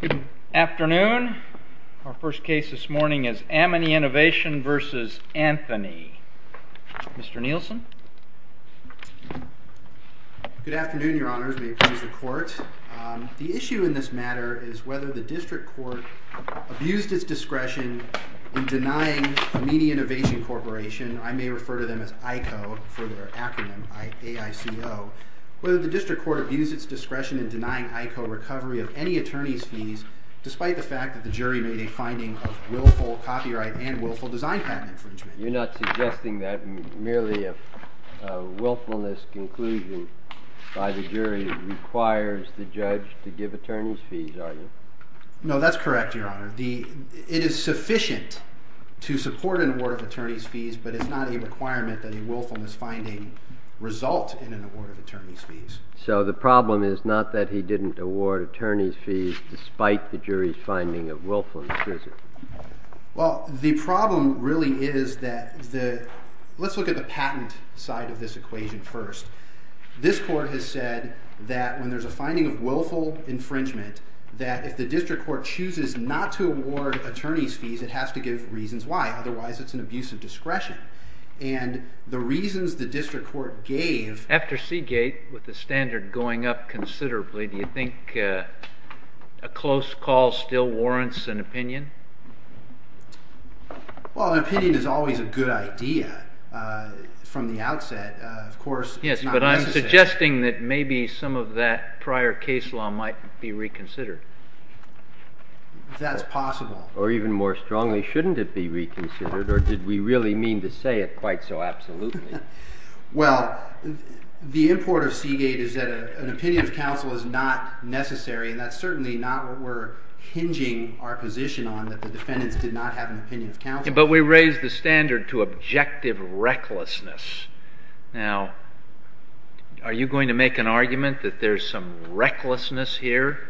Good afternoon. Our first case this morning is Amini Innovation v. Anthony. Mr. Nielsen. Good afternoon, Your Honors. May it please the Court. The issue in this matter is whether the District Court abused its discretion in denying Amini Innovation Corporation, I may recall, recovery of any attorney's fees, despite the fact that the jury made a finding of willful copyright and willful design patent infringement. You're not suggesting that merely a willfulness conclusion by the jury requires the judge to give attorney's fees, are you? No, that's correct, Your Honor. It is sufficient to support an award of attorney's fees, but it's not a requirement that a willfulness finding result in an award of attorney's fees. So the problem is not that he didn't award attorney's fees, despite the jury's finding of willfulness, is it? Well, the problem really is that the, let's look at the patent side of this equation first. This Court has said that when there's a finding of willful infringement, that if the District Court chooses not to award attorney's fees, it has to give reasons why, otherwise it's an abuse of discretion. And the reasons the District Court gave... After Seagate, with the standard going up considerably, do you think a close call still warrants an opinion? Well, an opinion is always a good idea from the outset. Of course... Yes, but I'm suggesting that maybe some of that prior case law might be reconsidered. That's possible. Or even more strongly, shouldn't it be reconsidered, or did we really mean to say it quite so absolutely? Well, the import of Seagate is that an opinion of counsel is not necessary, and that's certainly not what we're hinging our position on, that the defendants did not have an opinion of counsel. But we raised the standard to objective recklessness. Now, are you going to make an argument that there's some recklessness here?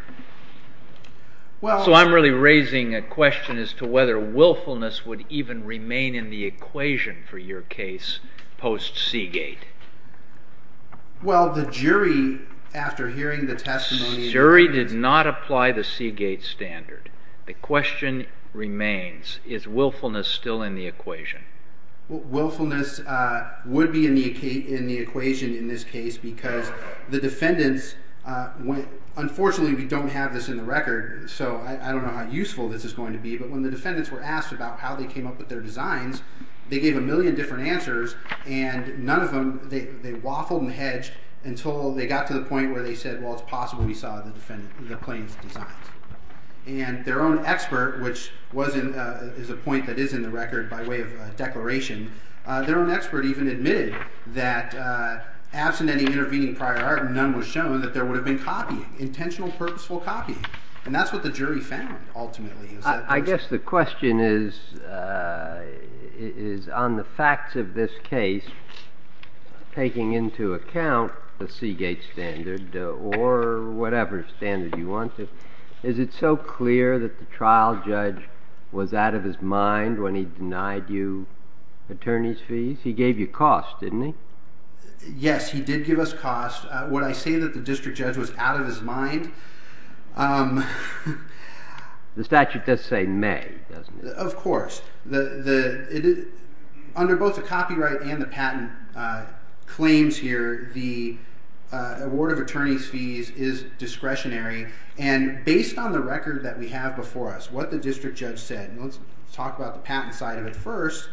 So I'm really raising a question as to whether willfulness would even remain in the equation for your case post-Seagate. Well, the jury after hearing the testimony... The jury did not apply the Seagate standard. The question remains, is willfulness still in the equation? Willfulness would be in the equation in this case because the defendants... Unfortunately, we don't have this in the record, so I don't know how useful this is going to be, but when the defendants were asked about how they came up with their designs, they gave a million different answers, and none of them... They waffled and hedged until they got to the point where they said, well, it's possible we saw the plaintiff's designs. And their own expert, which is a point that is in the record by way of a declaration, their own expert even admitted that absent any intervening prior argument, none was shown that there would have been copying, intentional, purposeful copy. And that's what the jury found, ultimately. I guess the question is on the facts of this case, taking into account the Seagate standard or whatever standard you wanted, is it so clear that the trial judge was out of his mind when he denied you attorney's fees? He gave you cost, didn't he? Yes, he did give us cost. Would I say that the district judge was out of his mind? The statute does say may, doesn't it? Of course. Under both the copyright and the patent claims here, the award of attorney's fees is discretionary and based on the record that we have before us, what the district judge said, and let's talk about the patent side of it first,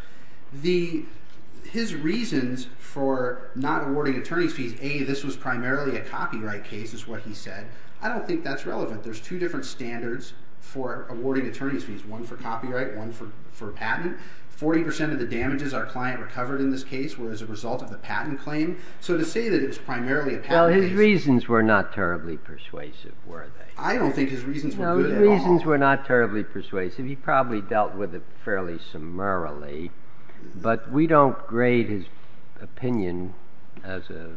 his reasons for not awarding attorney's fees, a, this was primarily a copyright case is what he said. I don't think that's relevant. There's two different standards for awarding attorney's fees, one for copyright, one for patent. Forty percent of the damages our client recovered in this case were as a result of the patent claim. So to say that it was primarily a patent case. Well, his reasons were not terribly persuasive, were they? I don't think his reasons were good at all. No, his reasons were not terribly persuasive. He probably dealt with it fairly summarily, but we don't grade his opinion as a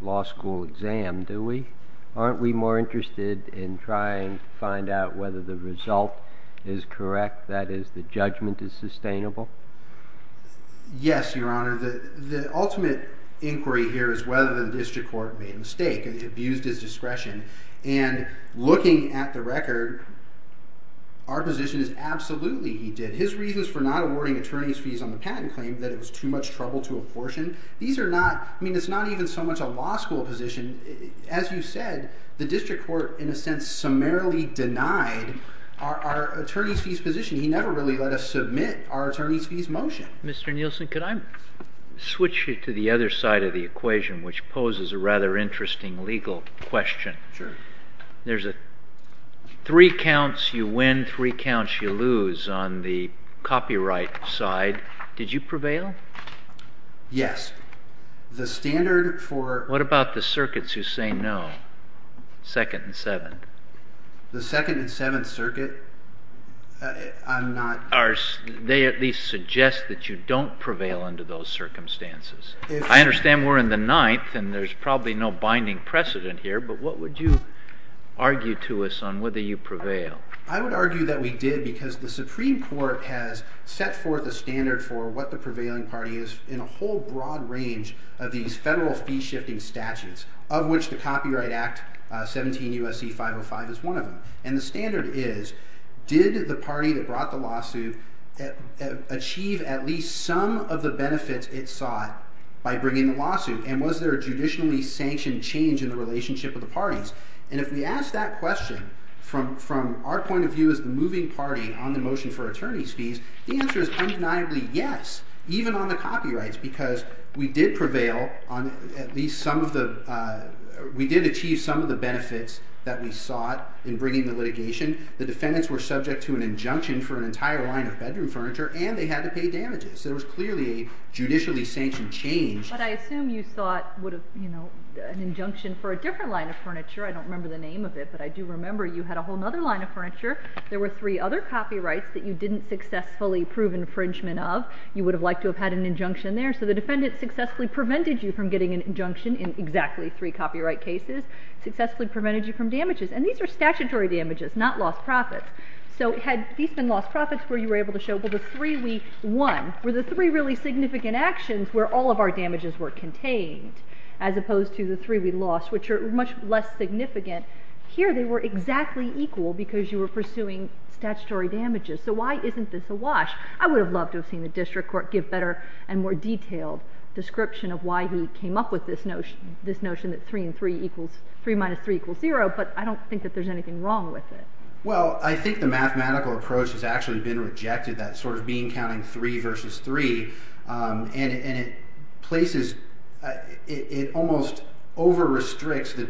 law school exam, do we? Aren't we more interested in trying to find out whether the result is correct, that is the judgment is sustainable? Yes, your honor. The ultimate inquiry here is whether the district court made a mistake and abused his discretion and looking at the record, our position is absolutely he did. His reasons for not awarding attorney's fees on the patent claim that it was too much trouble to abortion. These are not, I mean, it's not even so much a law school position. As you said, the district court, in a sense, summarily denied our attorney's fees position. He never really let us submit our attorney's fees motion. Mr. Nielsen, could I switch you to the other side of the equation, which poses a rather interesting legal question? Sure. There's a three counts you win, three counts you lose, and you're in the second and seventh circuit. The second and seventh circuit, I'm not... They at least suggest that you don't prevail under those circumstances. I understand we're in the ninth and there's probably no binding precedent here, but what would you argue to us on whether you prevail? I would argue that we did because the Supreme Court set forth a standard for what the prevailing party is in a whole broad range of these federal fee shifting statutes, of which the Copyright Act 17 U.S.C. 505 is one of them. The standard is, did the party that brought the lawsuit achieve at least some of the benefits it sought by bringing the lawsuit, and was there a judicially sanctioned change in the relationship of the parties? If we ask that question from our point of view as the moving party on the motion for attorney's fees, the answer is undeniably yes, even on the copyrights, because we did prevail on at least some of the... We did achieve some of the benefits that we sought in bringing the litigation. The defendants were subject to an injunction for an entire line of bedroom furniture, and they had to pay damages. There was clearly a judicially sanctioned change. But I assume you sought an injunction for a different line of furniture. I don't remember the name of it, but I do remember you had a whole other line of furniture. There were three other copyrights that you didn't successfully prove infringement of. You would have liked to have had an injunction there. So the defendant successfully prevented you from getting an injunction in exactly three copyright cases, successfully prevented you from damages. And these are statutory damages, not lost profits. So had these been lost profits, were you able to show, well, the three we won, were the three really significant actions where all of our damages were contained, as opposed to the three we lost, which are much less significant. Here they were exactly equal because you were pursuing statutory damages. So why isn't this a wash? I would have loved to have seen the district court give better and more detailed description of why he came up with this notion, this notion that three minus three equals zero, but I don't think that there's anything wrong with it. Well, I think the mathematical approach has actually been rejected, that sort of bean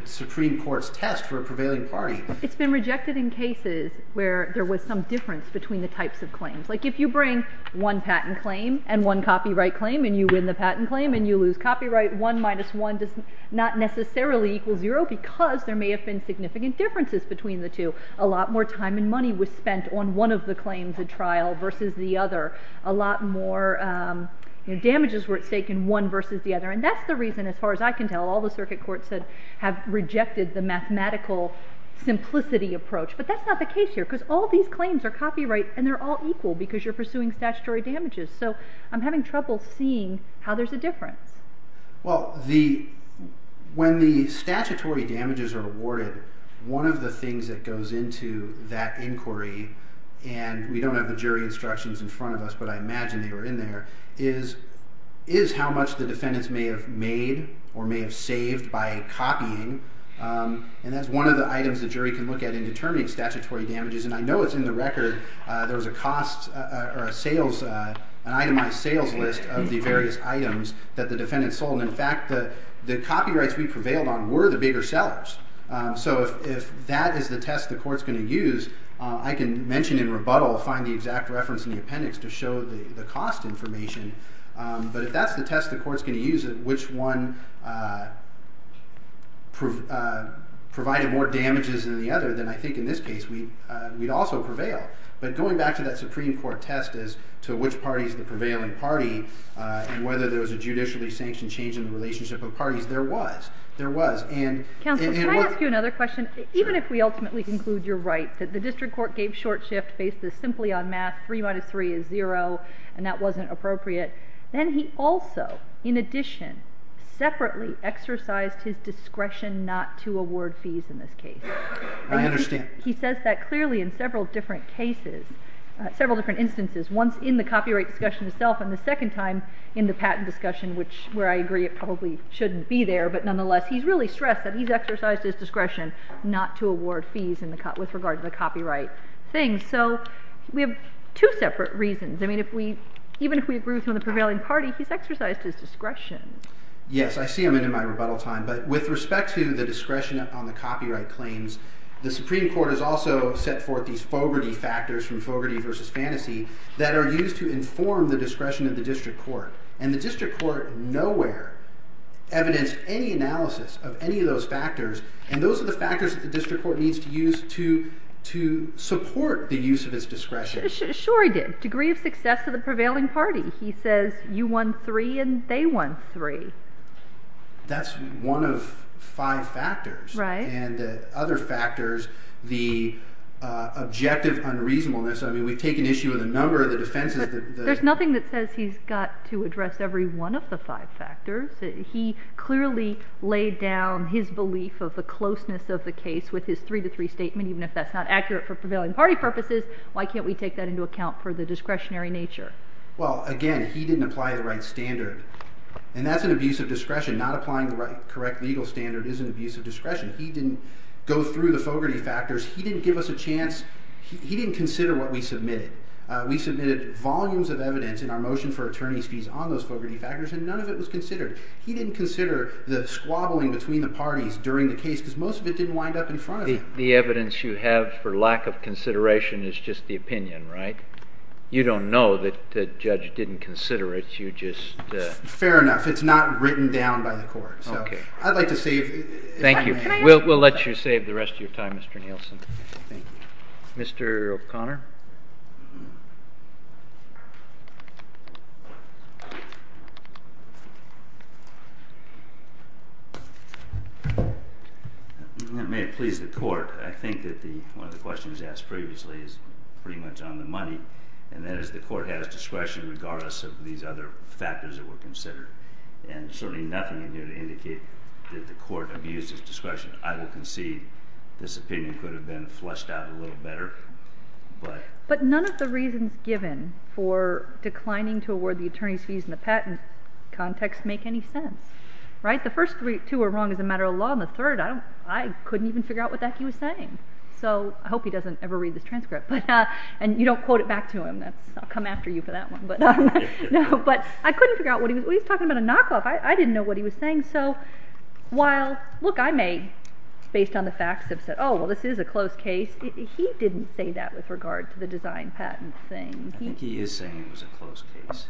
Supreme Court's test for a prevailing party. It's been rejected in cases where there was some difference between the types of claims. Like if you bring one patent claim and one copyright claim and you win the patent claim and you lose copyright, one minus one does not necessarily equal zero because there may have been significant differences between the two. A lot more time and money was spent on one of the claims at trial versus the other. A lot more damages were at stake in one versus the other. And that's the reason, as far as I can tell, all the circuit courts that have rejected the mathematical simplicity approach. But that's not the case here because all these claims are copyright and they're all equal because you're pursuing statutory damages. So I'm having trouble seeing how there's a difference. Well, when the statutory damages are awarded, one of the things that goes into that inquiry and we don't have the jury instructions in front of us, but I imagine they were in there, is how much the defendants may have made or may have saved by copying. And that's one of the items the jury can look at in determining statutory damages. And I know it's in the record. There was an itemized sales list of the various items that the defendants sold. In fact, the copyrights we prevailed on were the bigger sellers. So if that is the test the court's going to use, I can mention in rebuttal, find the exact reference in the appendix to show the cost information. But if that's the test the court's going to use, which one provided more damages than the other, then I think in this case we'd also prevail. But going back to that Supreme Court test as to which party is the prevailing party and whether there was a judicially sanctioned change in the relationship of parties, there was. There was. Counsel, can I ask you another question? Even if we ultimately conclude you're right, that the 3 minus 3 is 0, and that wasn't appropriate, then he also, in addition, separately exercised his discretion not to award fees in this case. I understand. He says that clearly in several different cases, several different instances. Once in the copyright discussion itself and the second time in the patent discussion, which where I agree it probably shouldn't be there. But nonetheless, he's really stressed that he's exercised his discretion not to award fees with regard to the copyright thing. So we have two separate reasons. I mean, even if we agree with the prevailing party, he's exercised his discretion. Yes, I see him in my rebuttal time. But with respect to the discretion on the copyright claims, the Supreme Court has also set forth these Fogarty factors from Fogarty versus Fantasy that are used to inform the discretion of the district court. And the district court nowhere evidenced any analysis of any of those factors. And those are the factors that the district court uses to support the use of its discretion. Sure he did. Degree of success of the prevailing party. He says you won three and they won three. That's one of five factors. Right. And the other factors, the objective unreasonableness. I mean, we take an issue of the number of the defenses. There's nothing that says he's got to address every one of the five factors. He clearly laid down his belief of the closeness of the case with his three to three statement. Even if that's not accurate for prevailing party purposes, why can't we take that into account for the discretionary nature? Well, again, he didn't apply the right standard. And that's an abuse of discretion. Not applying the right correct legal standard is an abuse of discretion. He didn't go through the Fogarty factors. He didn't give us a chance. He didn't consider what we submitted. We submitted volumes of evidence in our motion for attorney's fees on those Fogarty factors and none of it was a squabbling between the parties during the case because most of it didn't wind up in front of him. The evidence you have for lack of consideration is just the opinion, right? You don't know that the judge didn't consider it. You just... Fair enough. It's not written down by the court. So I'd like to save... Thank you. We'll let you save the rest of your time, Mr. Nielsen. Mr. O'Connor. May it please the court, I think that one of the questions asked previously is pretty much on the money, and that is the court has discretion regardless of these other factors that were considered. And certainly nothing in here to indicate that the court abused its discretion. I will concede this opinion could have been fleshed out a little better. But none of the reasons given for declining to award the attorney's fees in the patent context make any sense, right? The first two are wrong as a matter of law, and the third, I couldn't even figure out what the heck he was saying. So I hope he doesn't ever read this transcript. And you don't quote it back to him. I'll come after you for that one. But I couldn't figure out what he was... He was talking about a knockoff. I didn't know what he was saying. So while, look, I may, based on the facts, have said, oh, well, this is a close case. He didn't say that with regard to the design patent thing. I think he is saying it was a close case.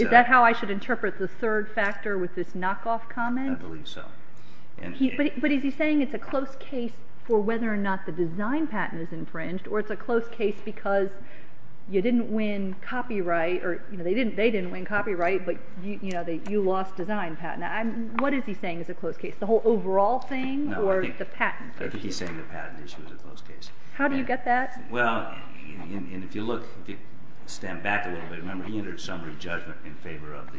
Is that how I should interpret the third factor with this knockoff comment? I believe so. But is he saying it's a close case for whether or not the design patent is infringed, or it's a close case because you didn't win copyright, or they didn't win copyright, but you lost design patent. What is he saying is a close case? The whole overall thing, or the patent? No, I think he's saying the patent issue is a close case. How do you get that? Well, and if you look, if you stand back a little bit, remember, he entered summary judgment in favor of the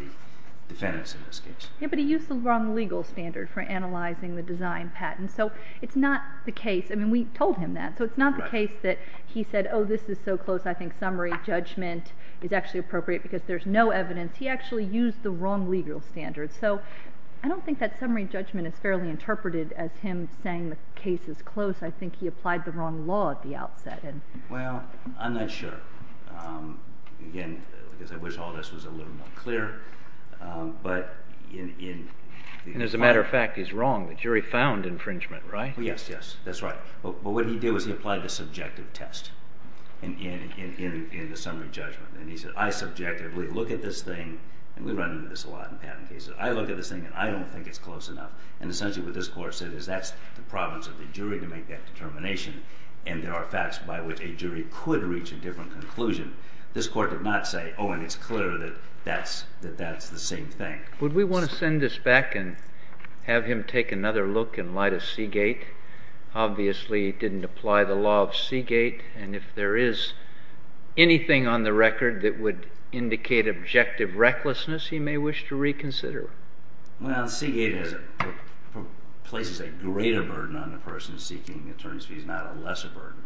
defendants in this case. Yeah, but he used the wrong legal standard for analyzing the design patent. So it's not the case. I mean, we told him that. So it's not the case that he said, oh, this is so close, I think summary judgment is actually appropriate because there's no evidence. He actually used the wrong legal standard. So I don't think that summary judgment is fairly interpreted as him saying the case is close. I think he applied the wrong law at the outset. Well, I'm not sure. Again, because I wish all this was a little more clear. And as a matter of fact, he's wrong. The jury found infringement, right? Yes, yes, that's right. But what he did was he applied the subjective test in the summary judgment. And he said, I subjectively look at this thing. And we run into this a lot in patent cases. I look at this thing, and I don't think it's close enough. And essentially what this court said is that's the province of the jury to make that determination. And there are facts by which a jury could reach a different conclusion. This court did not say, oh, and it's clear that that's the same thing. Would we want to send this back and have him take another look and lie to Seagate? Obviously, he didn't apply the law of Seagate. And if there is anything on the record that would indicate objective recklessness, he may wish to reconsider. Well, Seagate places a greater burden on the person seeking attorney's fees, not a lesser burden.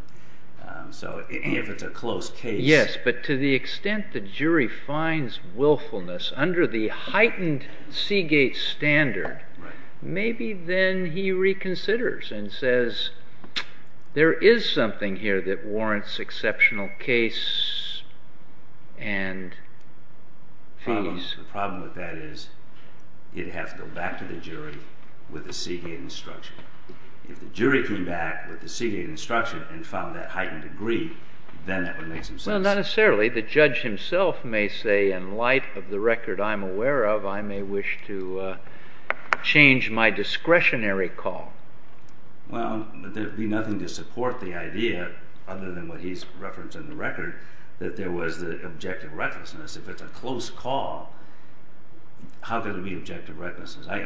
So if it's a close case. Yes, but to the extent the jury finds willfulness under the heightened Seagate standard, maybe then he reconsiders and says, there is something here that warrants exceptional case and fees. The problem with that is it has to go back to the jury with the Seagate instruction. If the jury came back with the Seagate instruction and found that heightened degree, then that would make some sense. Well, not necessarily. The judge himself may say, in light of the record I'm aware of, I may wish to change my discretionary call. Well, there'd be nothing to support the idea, other than what he's referenced in the record, that there was the objective recklessness. If it's a close call, how could there be objective recklessness? I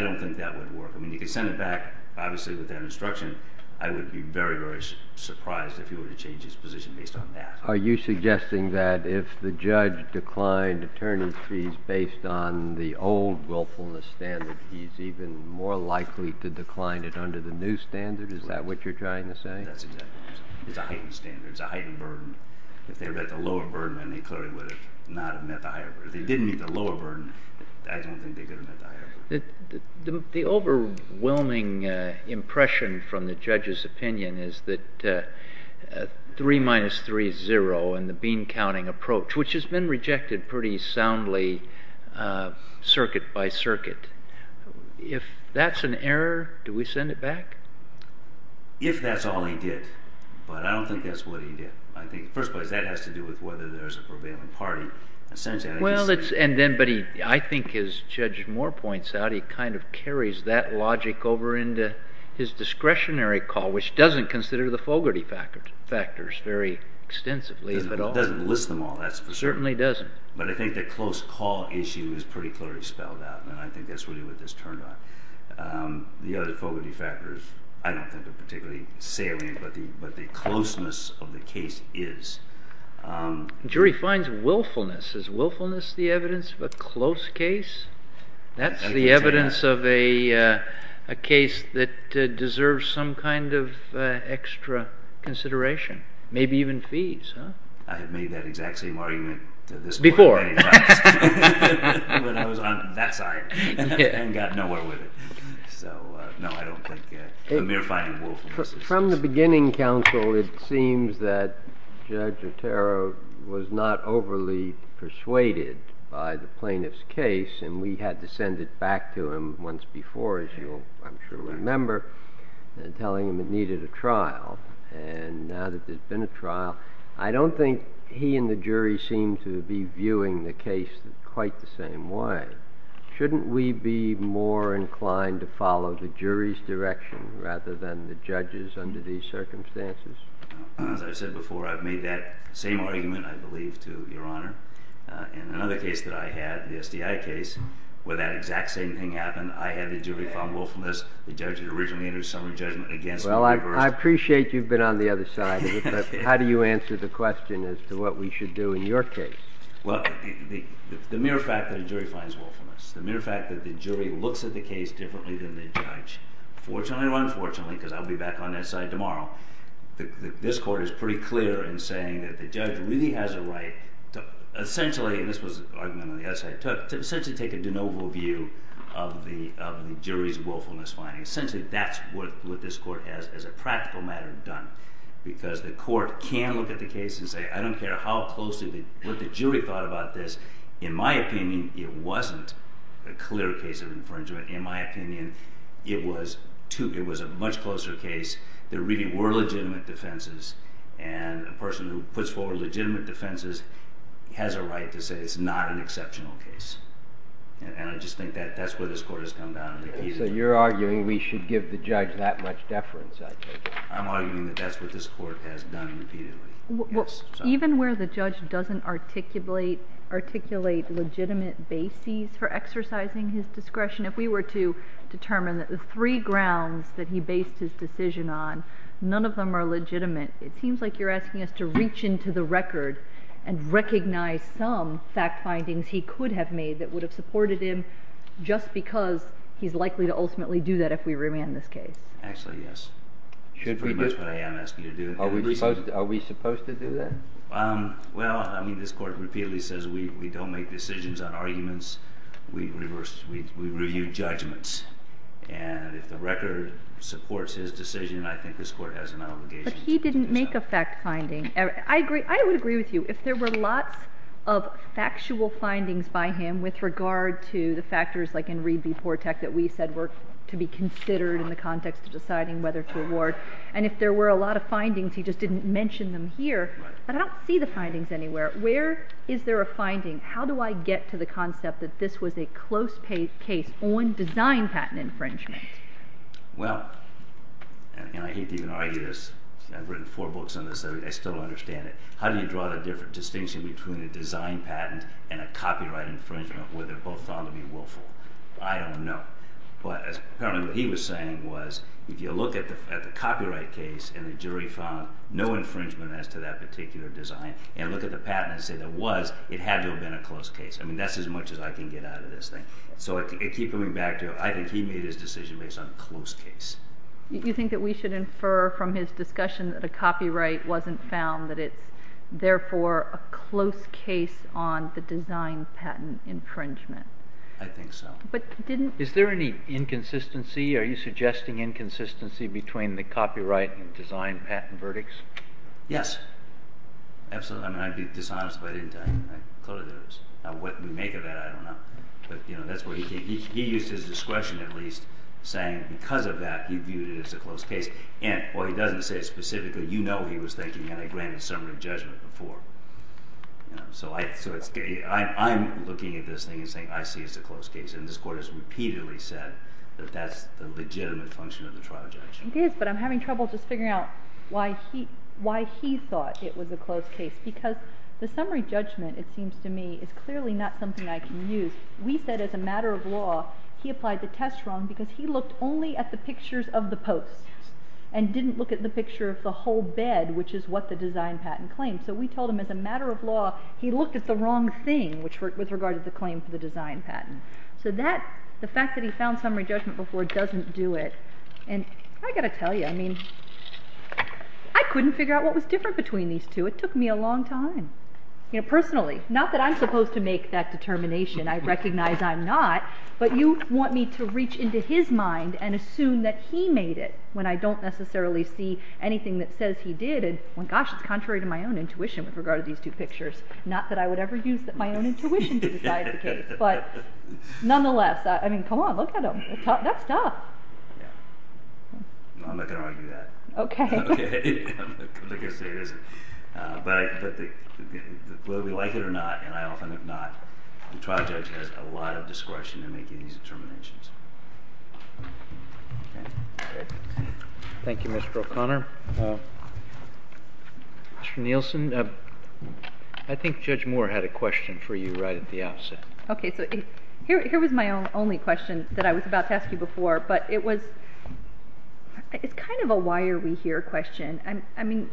don't think that would work. I mean, you could send it back, obviously, with that instruction. I would be very, very surprised if he were to change his position based on that. Are you suggesting that if the judge declined attorney fees based on the old willfulness standard, he's even more likely to decline it under the new standard? Is that what you're trying to say? That's exactly what I'm saying. It's a heightened standard. It's a heightened burden. If they were at the lower burden, then they clearly would not have met the higher burden. If they didn't meet the lower burden, I don't think they could have met the higher burden. The overwhelming impression from the judge's opinion is that 3 minus 3 is 0 in the bean counting approach, which has been rejected pretty soundly, circuit by circuit. If that's an error, do we send it back? If that's all he did. But I don't think that's what he did. First of all, that has to do with whether there's a prevailing party. I think as Judge Moore points out, he kind of carries that logic over into his discretionary call, which doesn't consider the Fogarty factors very extensively. It doesn't list them all. It certainly doesn't. But I think the close call issue is pretty clearly spelled out, and I think that's really what this turned on. The other Fogarty factors I don't think are particularly salient, but the closeness of the case is. The jury finds willfulness. Is willfulness the evidence of a close case? That's the evidence of a case that deserves some kind of extra consideration, maybe even fees, huh? I have made that exact same argument to this point many times, but I was on that side and got nowhere with it. So, no, I don't think the mere finding of willfulness is. From the beginning, counsel, it seems that Judge Otero was not overly persuaded by the plaintiff's case, and we had to send it back to him once before, as you I'm sure remember, telling him it needed a trial. And now that there's been a trial, I don't think he and the jury seem to be viewing the case quite the same way. Shouldn't we be more inclined to follow the jury's direction rather than the judge's under these circumstances? As I said before, I've made that same argument, I believe, to Your Honor. In another case that I had, the SDI case, where that exact same thing happened, I had the jury find willfulness. The judge had originally entered a summary judgment against me. Well, I appreciate you've been on the other side of it, but how do you answer the question as to what we should do in your case? Well, the mere fact that a jury finds willfulness, the mere fact that the jury looks at the case differently than the judge, fortunately or unfortunately, because I'll be back on that side tomorrow, this Court is pretty clear in saying that the judge really has a right to essentially, and this was an argument on the other side, to essentially take a de novo view of the jury's willfulness finding. Essentially, that's what this Court has, as a practical matter, done. Because the Court can look at the case and say, I don't care how close, what the jury thought about this. In my opinion, it wasn't a clear case of infringement. In my opinion, it was a much closer case. There really were legitimate defenses, and a person who puts forward legitimate defenses has a right to say it's not an exceptional case. And I just think that's where this Court has come down. So you're arguing we should give the judge that much deference, I take it? I'm arguing that that's what this Court has done repeatedly. Even where the judge doesn't articulate legitimate bases for exercising his discretion, if we were to determine that the three grounds that he based his decision on, none of them are legitimate, it seems like you're asking us to reach into the record and recognize some fact findings he could have made that would have supported him, just because he's likely to ultimately do that if we remand this case. Actually, yes. That's pretty much what I am asking you to do. Are we supposed to do that? Well, I mean, this Court repeatedly says we don't make decisions on arguments. We review judgments. And if the record supports his decision, I think this Court has an obligation to do so. But he didn't make a fact finding. I would agree with you. If there were lots of factual findings by him with regard to the factors, like in Reed v. Portek, that we said were to be considered in the context of deciding whether to award, and if there were a lot of findings, he just didn't mention them here. But I don't see the findings anywhere. Where is there a finding? How do I get to the concept that this was a close case on design patent infringement? Well, and I hate to even argue this. I've written four books on this. I still don't understand it. How do you draw the different distinction between a design patent and a copyright infringement where they're both thought to be willful? I don't know. But apparently what he was saying was if you look at the copyright case and the jury found no infringement as to that particular design, and look at the patent and say there was, it had to have been a close case. I mean, that's as much as I can get out of this thing. So it keeps coming back to, I think he made his decision based on close case. You think that we should infer from his discussion that a copyright wasn't found, that it's therefore a close case on the design patent infringement? I think so. But didn't... Is there any inconsistency? Are you suggesting inconsistency between the copyright and design patent verdicts? Yes. Absolutely. I mean, I'd be dishonest if I didn't tell you. I'm clear that it was. Now what we make of that, I don't know. But, you know, that's where he came from. He used his discretion, at least, saying because of that, he viewed it as a close case. And what he doesn't say specifically, you know what he was thinking, and I granted a summary of judgment before. So I'm looking at this thing and saying I see it as a close case. And this Court has repeatedly said that that's the legitimate function of the trial judgment. It is, but I'm having trouble just figuring out why he thought it was a close case. Because the summary judgment, it seems to me, is clearly not something I can use. We said as a matter of law, he applied the test wrong because he looked only at the pictures of the posts and didn't look at the picture of the whole bed, which is what the design patent claims. So we told him as a matter of law, he looked at the wrong thing, with regard to the claim for the design patent. So that, the fact that he found summary judgment before doesn't do it. And I've got to tell you, I mean, I couldn't figure out what was different between these two. It took me a long time. You know, personally, not that I'm supposed to make that determination, I recognize I'm not, but you want me to reach into his mind and assume that he made it when I don't necessarily see anything that says he did. Gosh, it's contrary to my own intuition with regard to these two pictures. Not that I would ever use my own intuition to decide the case. But nonetheless, I mean, come on, look at him. That's tough. I'm not going to argue that. Okay. I'm not going to say it isn't. But whether we like it or not, and I often have not, the trial judge has a lot of discretion in making these determinations. Thank you, Mr. O'Connor. Mr. Nielsen, I think Judge Moore had a question for you right at the outset. Okay. So here was my only question that I was about to ask you before, but it was, it's kind of a why are we here question. I mean,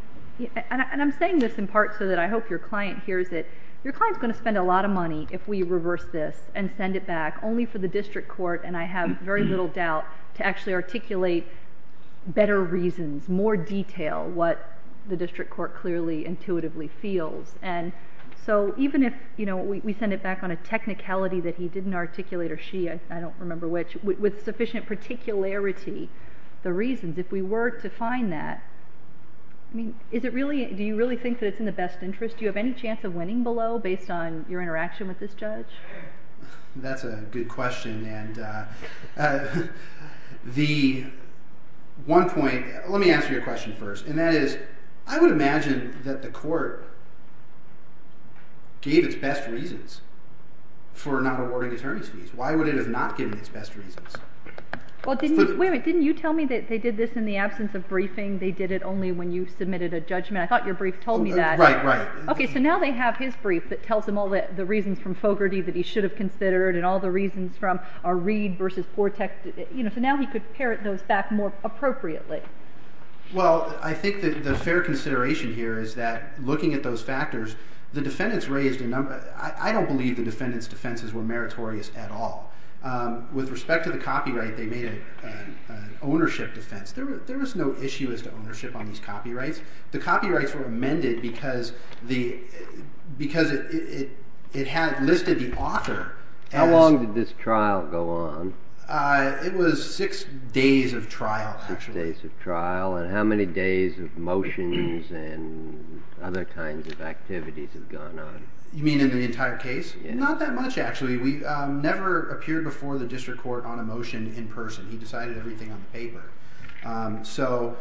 and I'm saying this in part so that I hope your client hears it. Your client's going to spend a lot of money if we reverse this and send it back only for the district court, and I have very little doubt to actually articulate better reasons, more detail, what the district court clearly intuitively feels. And so even if we send it back on a technicality that he didn't articulate or she, I don't remember which, with sufficient particularity, the reasons, if we were to find that, I mean, is it really, do you really think that it's in the best interest? Do you have any chance of winning below based on your interaction with this judge? That's a good question. And the one point, let me answer your question first, and that is I would imagine that the court gave its best reasons for not awarding attorney's fees. Why would it have not given its best reasons? Wait a minute. Didn't you tell me that they did this in the absence of briefing? They did it only when you submitted a judgment. I thought your brief told me that. Right, right. Okay. So now they have his brief that tells them all the reasons from Fogarty that he should have considered and all the reasons from Reid versus Portek. So now he could parrot those back more appropriately. Well, I think the fair consideration here is that looking at those factors, the defendants raised a number. I don't believe the defendants' defenses were meritorious at all. With respect to the copyright, they made an ownership defense. There was no issue as to ownership on these copyrights. The copyrights were amended because it listed the author. How long did this trial go on? It was six days of trial, actually. Six days of trial, and how many days of motions and other kinds of activities have gone on? You mean in the entire case? Not that much, actually. We never appeared before the district court on a motion in person. He decided everything on the paper. So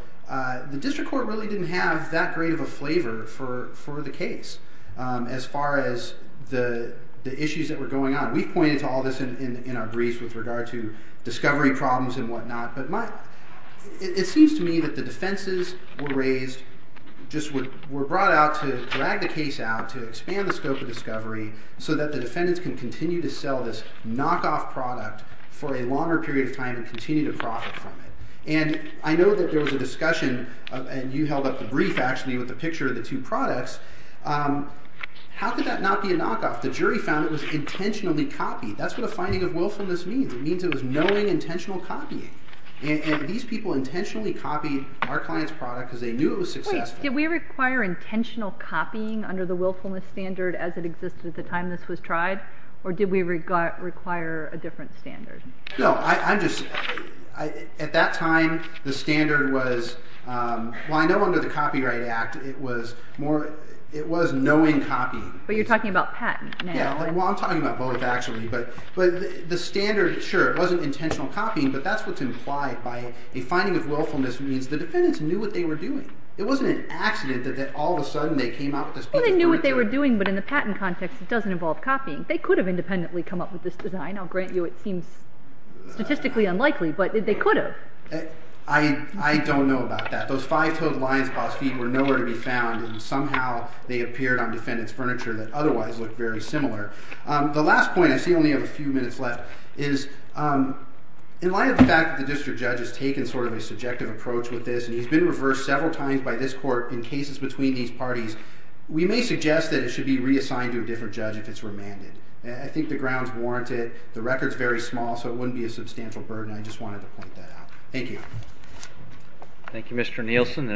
the district court really didn't have that great of a flavor for the case as far as the issues that were going on. We've pointed to all this in our briefs with regard to discovery problems and whatnot. But it seems to me that the defenses were raised, just were brought out to drag the case out, to expand the scope of discovery so that the defendants can continue to sell this knockoff product for a longer period of time and continue to profit from it. And I know that there was a discussion, and you held up the brief, actually, with a picture of the two products. How could that not be a knockoff? The jury found it was intentionally copied. That's what a finding of willfulness means. It means it was knowing intentional copying. And these people intentionally copied our client's product because they knew it was successful. Wait. Did we require intentional copying under the willfulness standard as it existed at the time this was tried, or did we require a different standard? No. I'm just... At that time, the standard was... Well, I know under the Copyright Act, it was more... It was knowing copying. But you're talking about patent now. Yeah. Well, I'm talking about both, actually. But the standard, sure, it wasn't intentional copying, but that's what's implied by a finding of willfulness means the defendants knew what they were doing. It wasn't an accident that all of a sudden they came out with this beautiful product. Well, they knew what they were doing, but in the patent context, it doesn't involve copying. They could have independently come up with this design. I'll grant you it seems statistically unlikely, but they could have. I don't know about that. Those five-toed lion's paws feet were nowhere to be found, and somehow they appeared on defendant's furniture that otherwise looked very similar. The last point, I see we only have a few minutes left, is in light of the fact that the district judge has taken sort of a subjective approach with this, and he's been reversed several times by this court in cases between these parties, we may suggest that it should be reassigned to a different judge if it's remanded. I think the grounds warrant it. The record's very small, so it wouldn't be a substantial burden. I just wanted to point that out. Thank you. Thank you, Mr. Nielsen.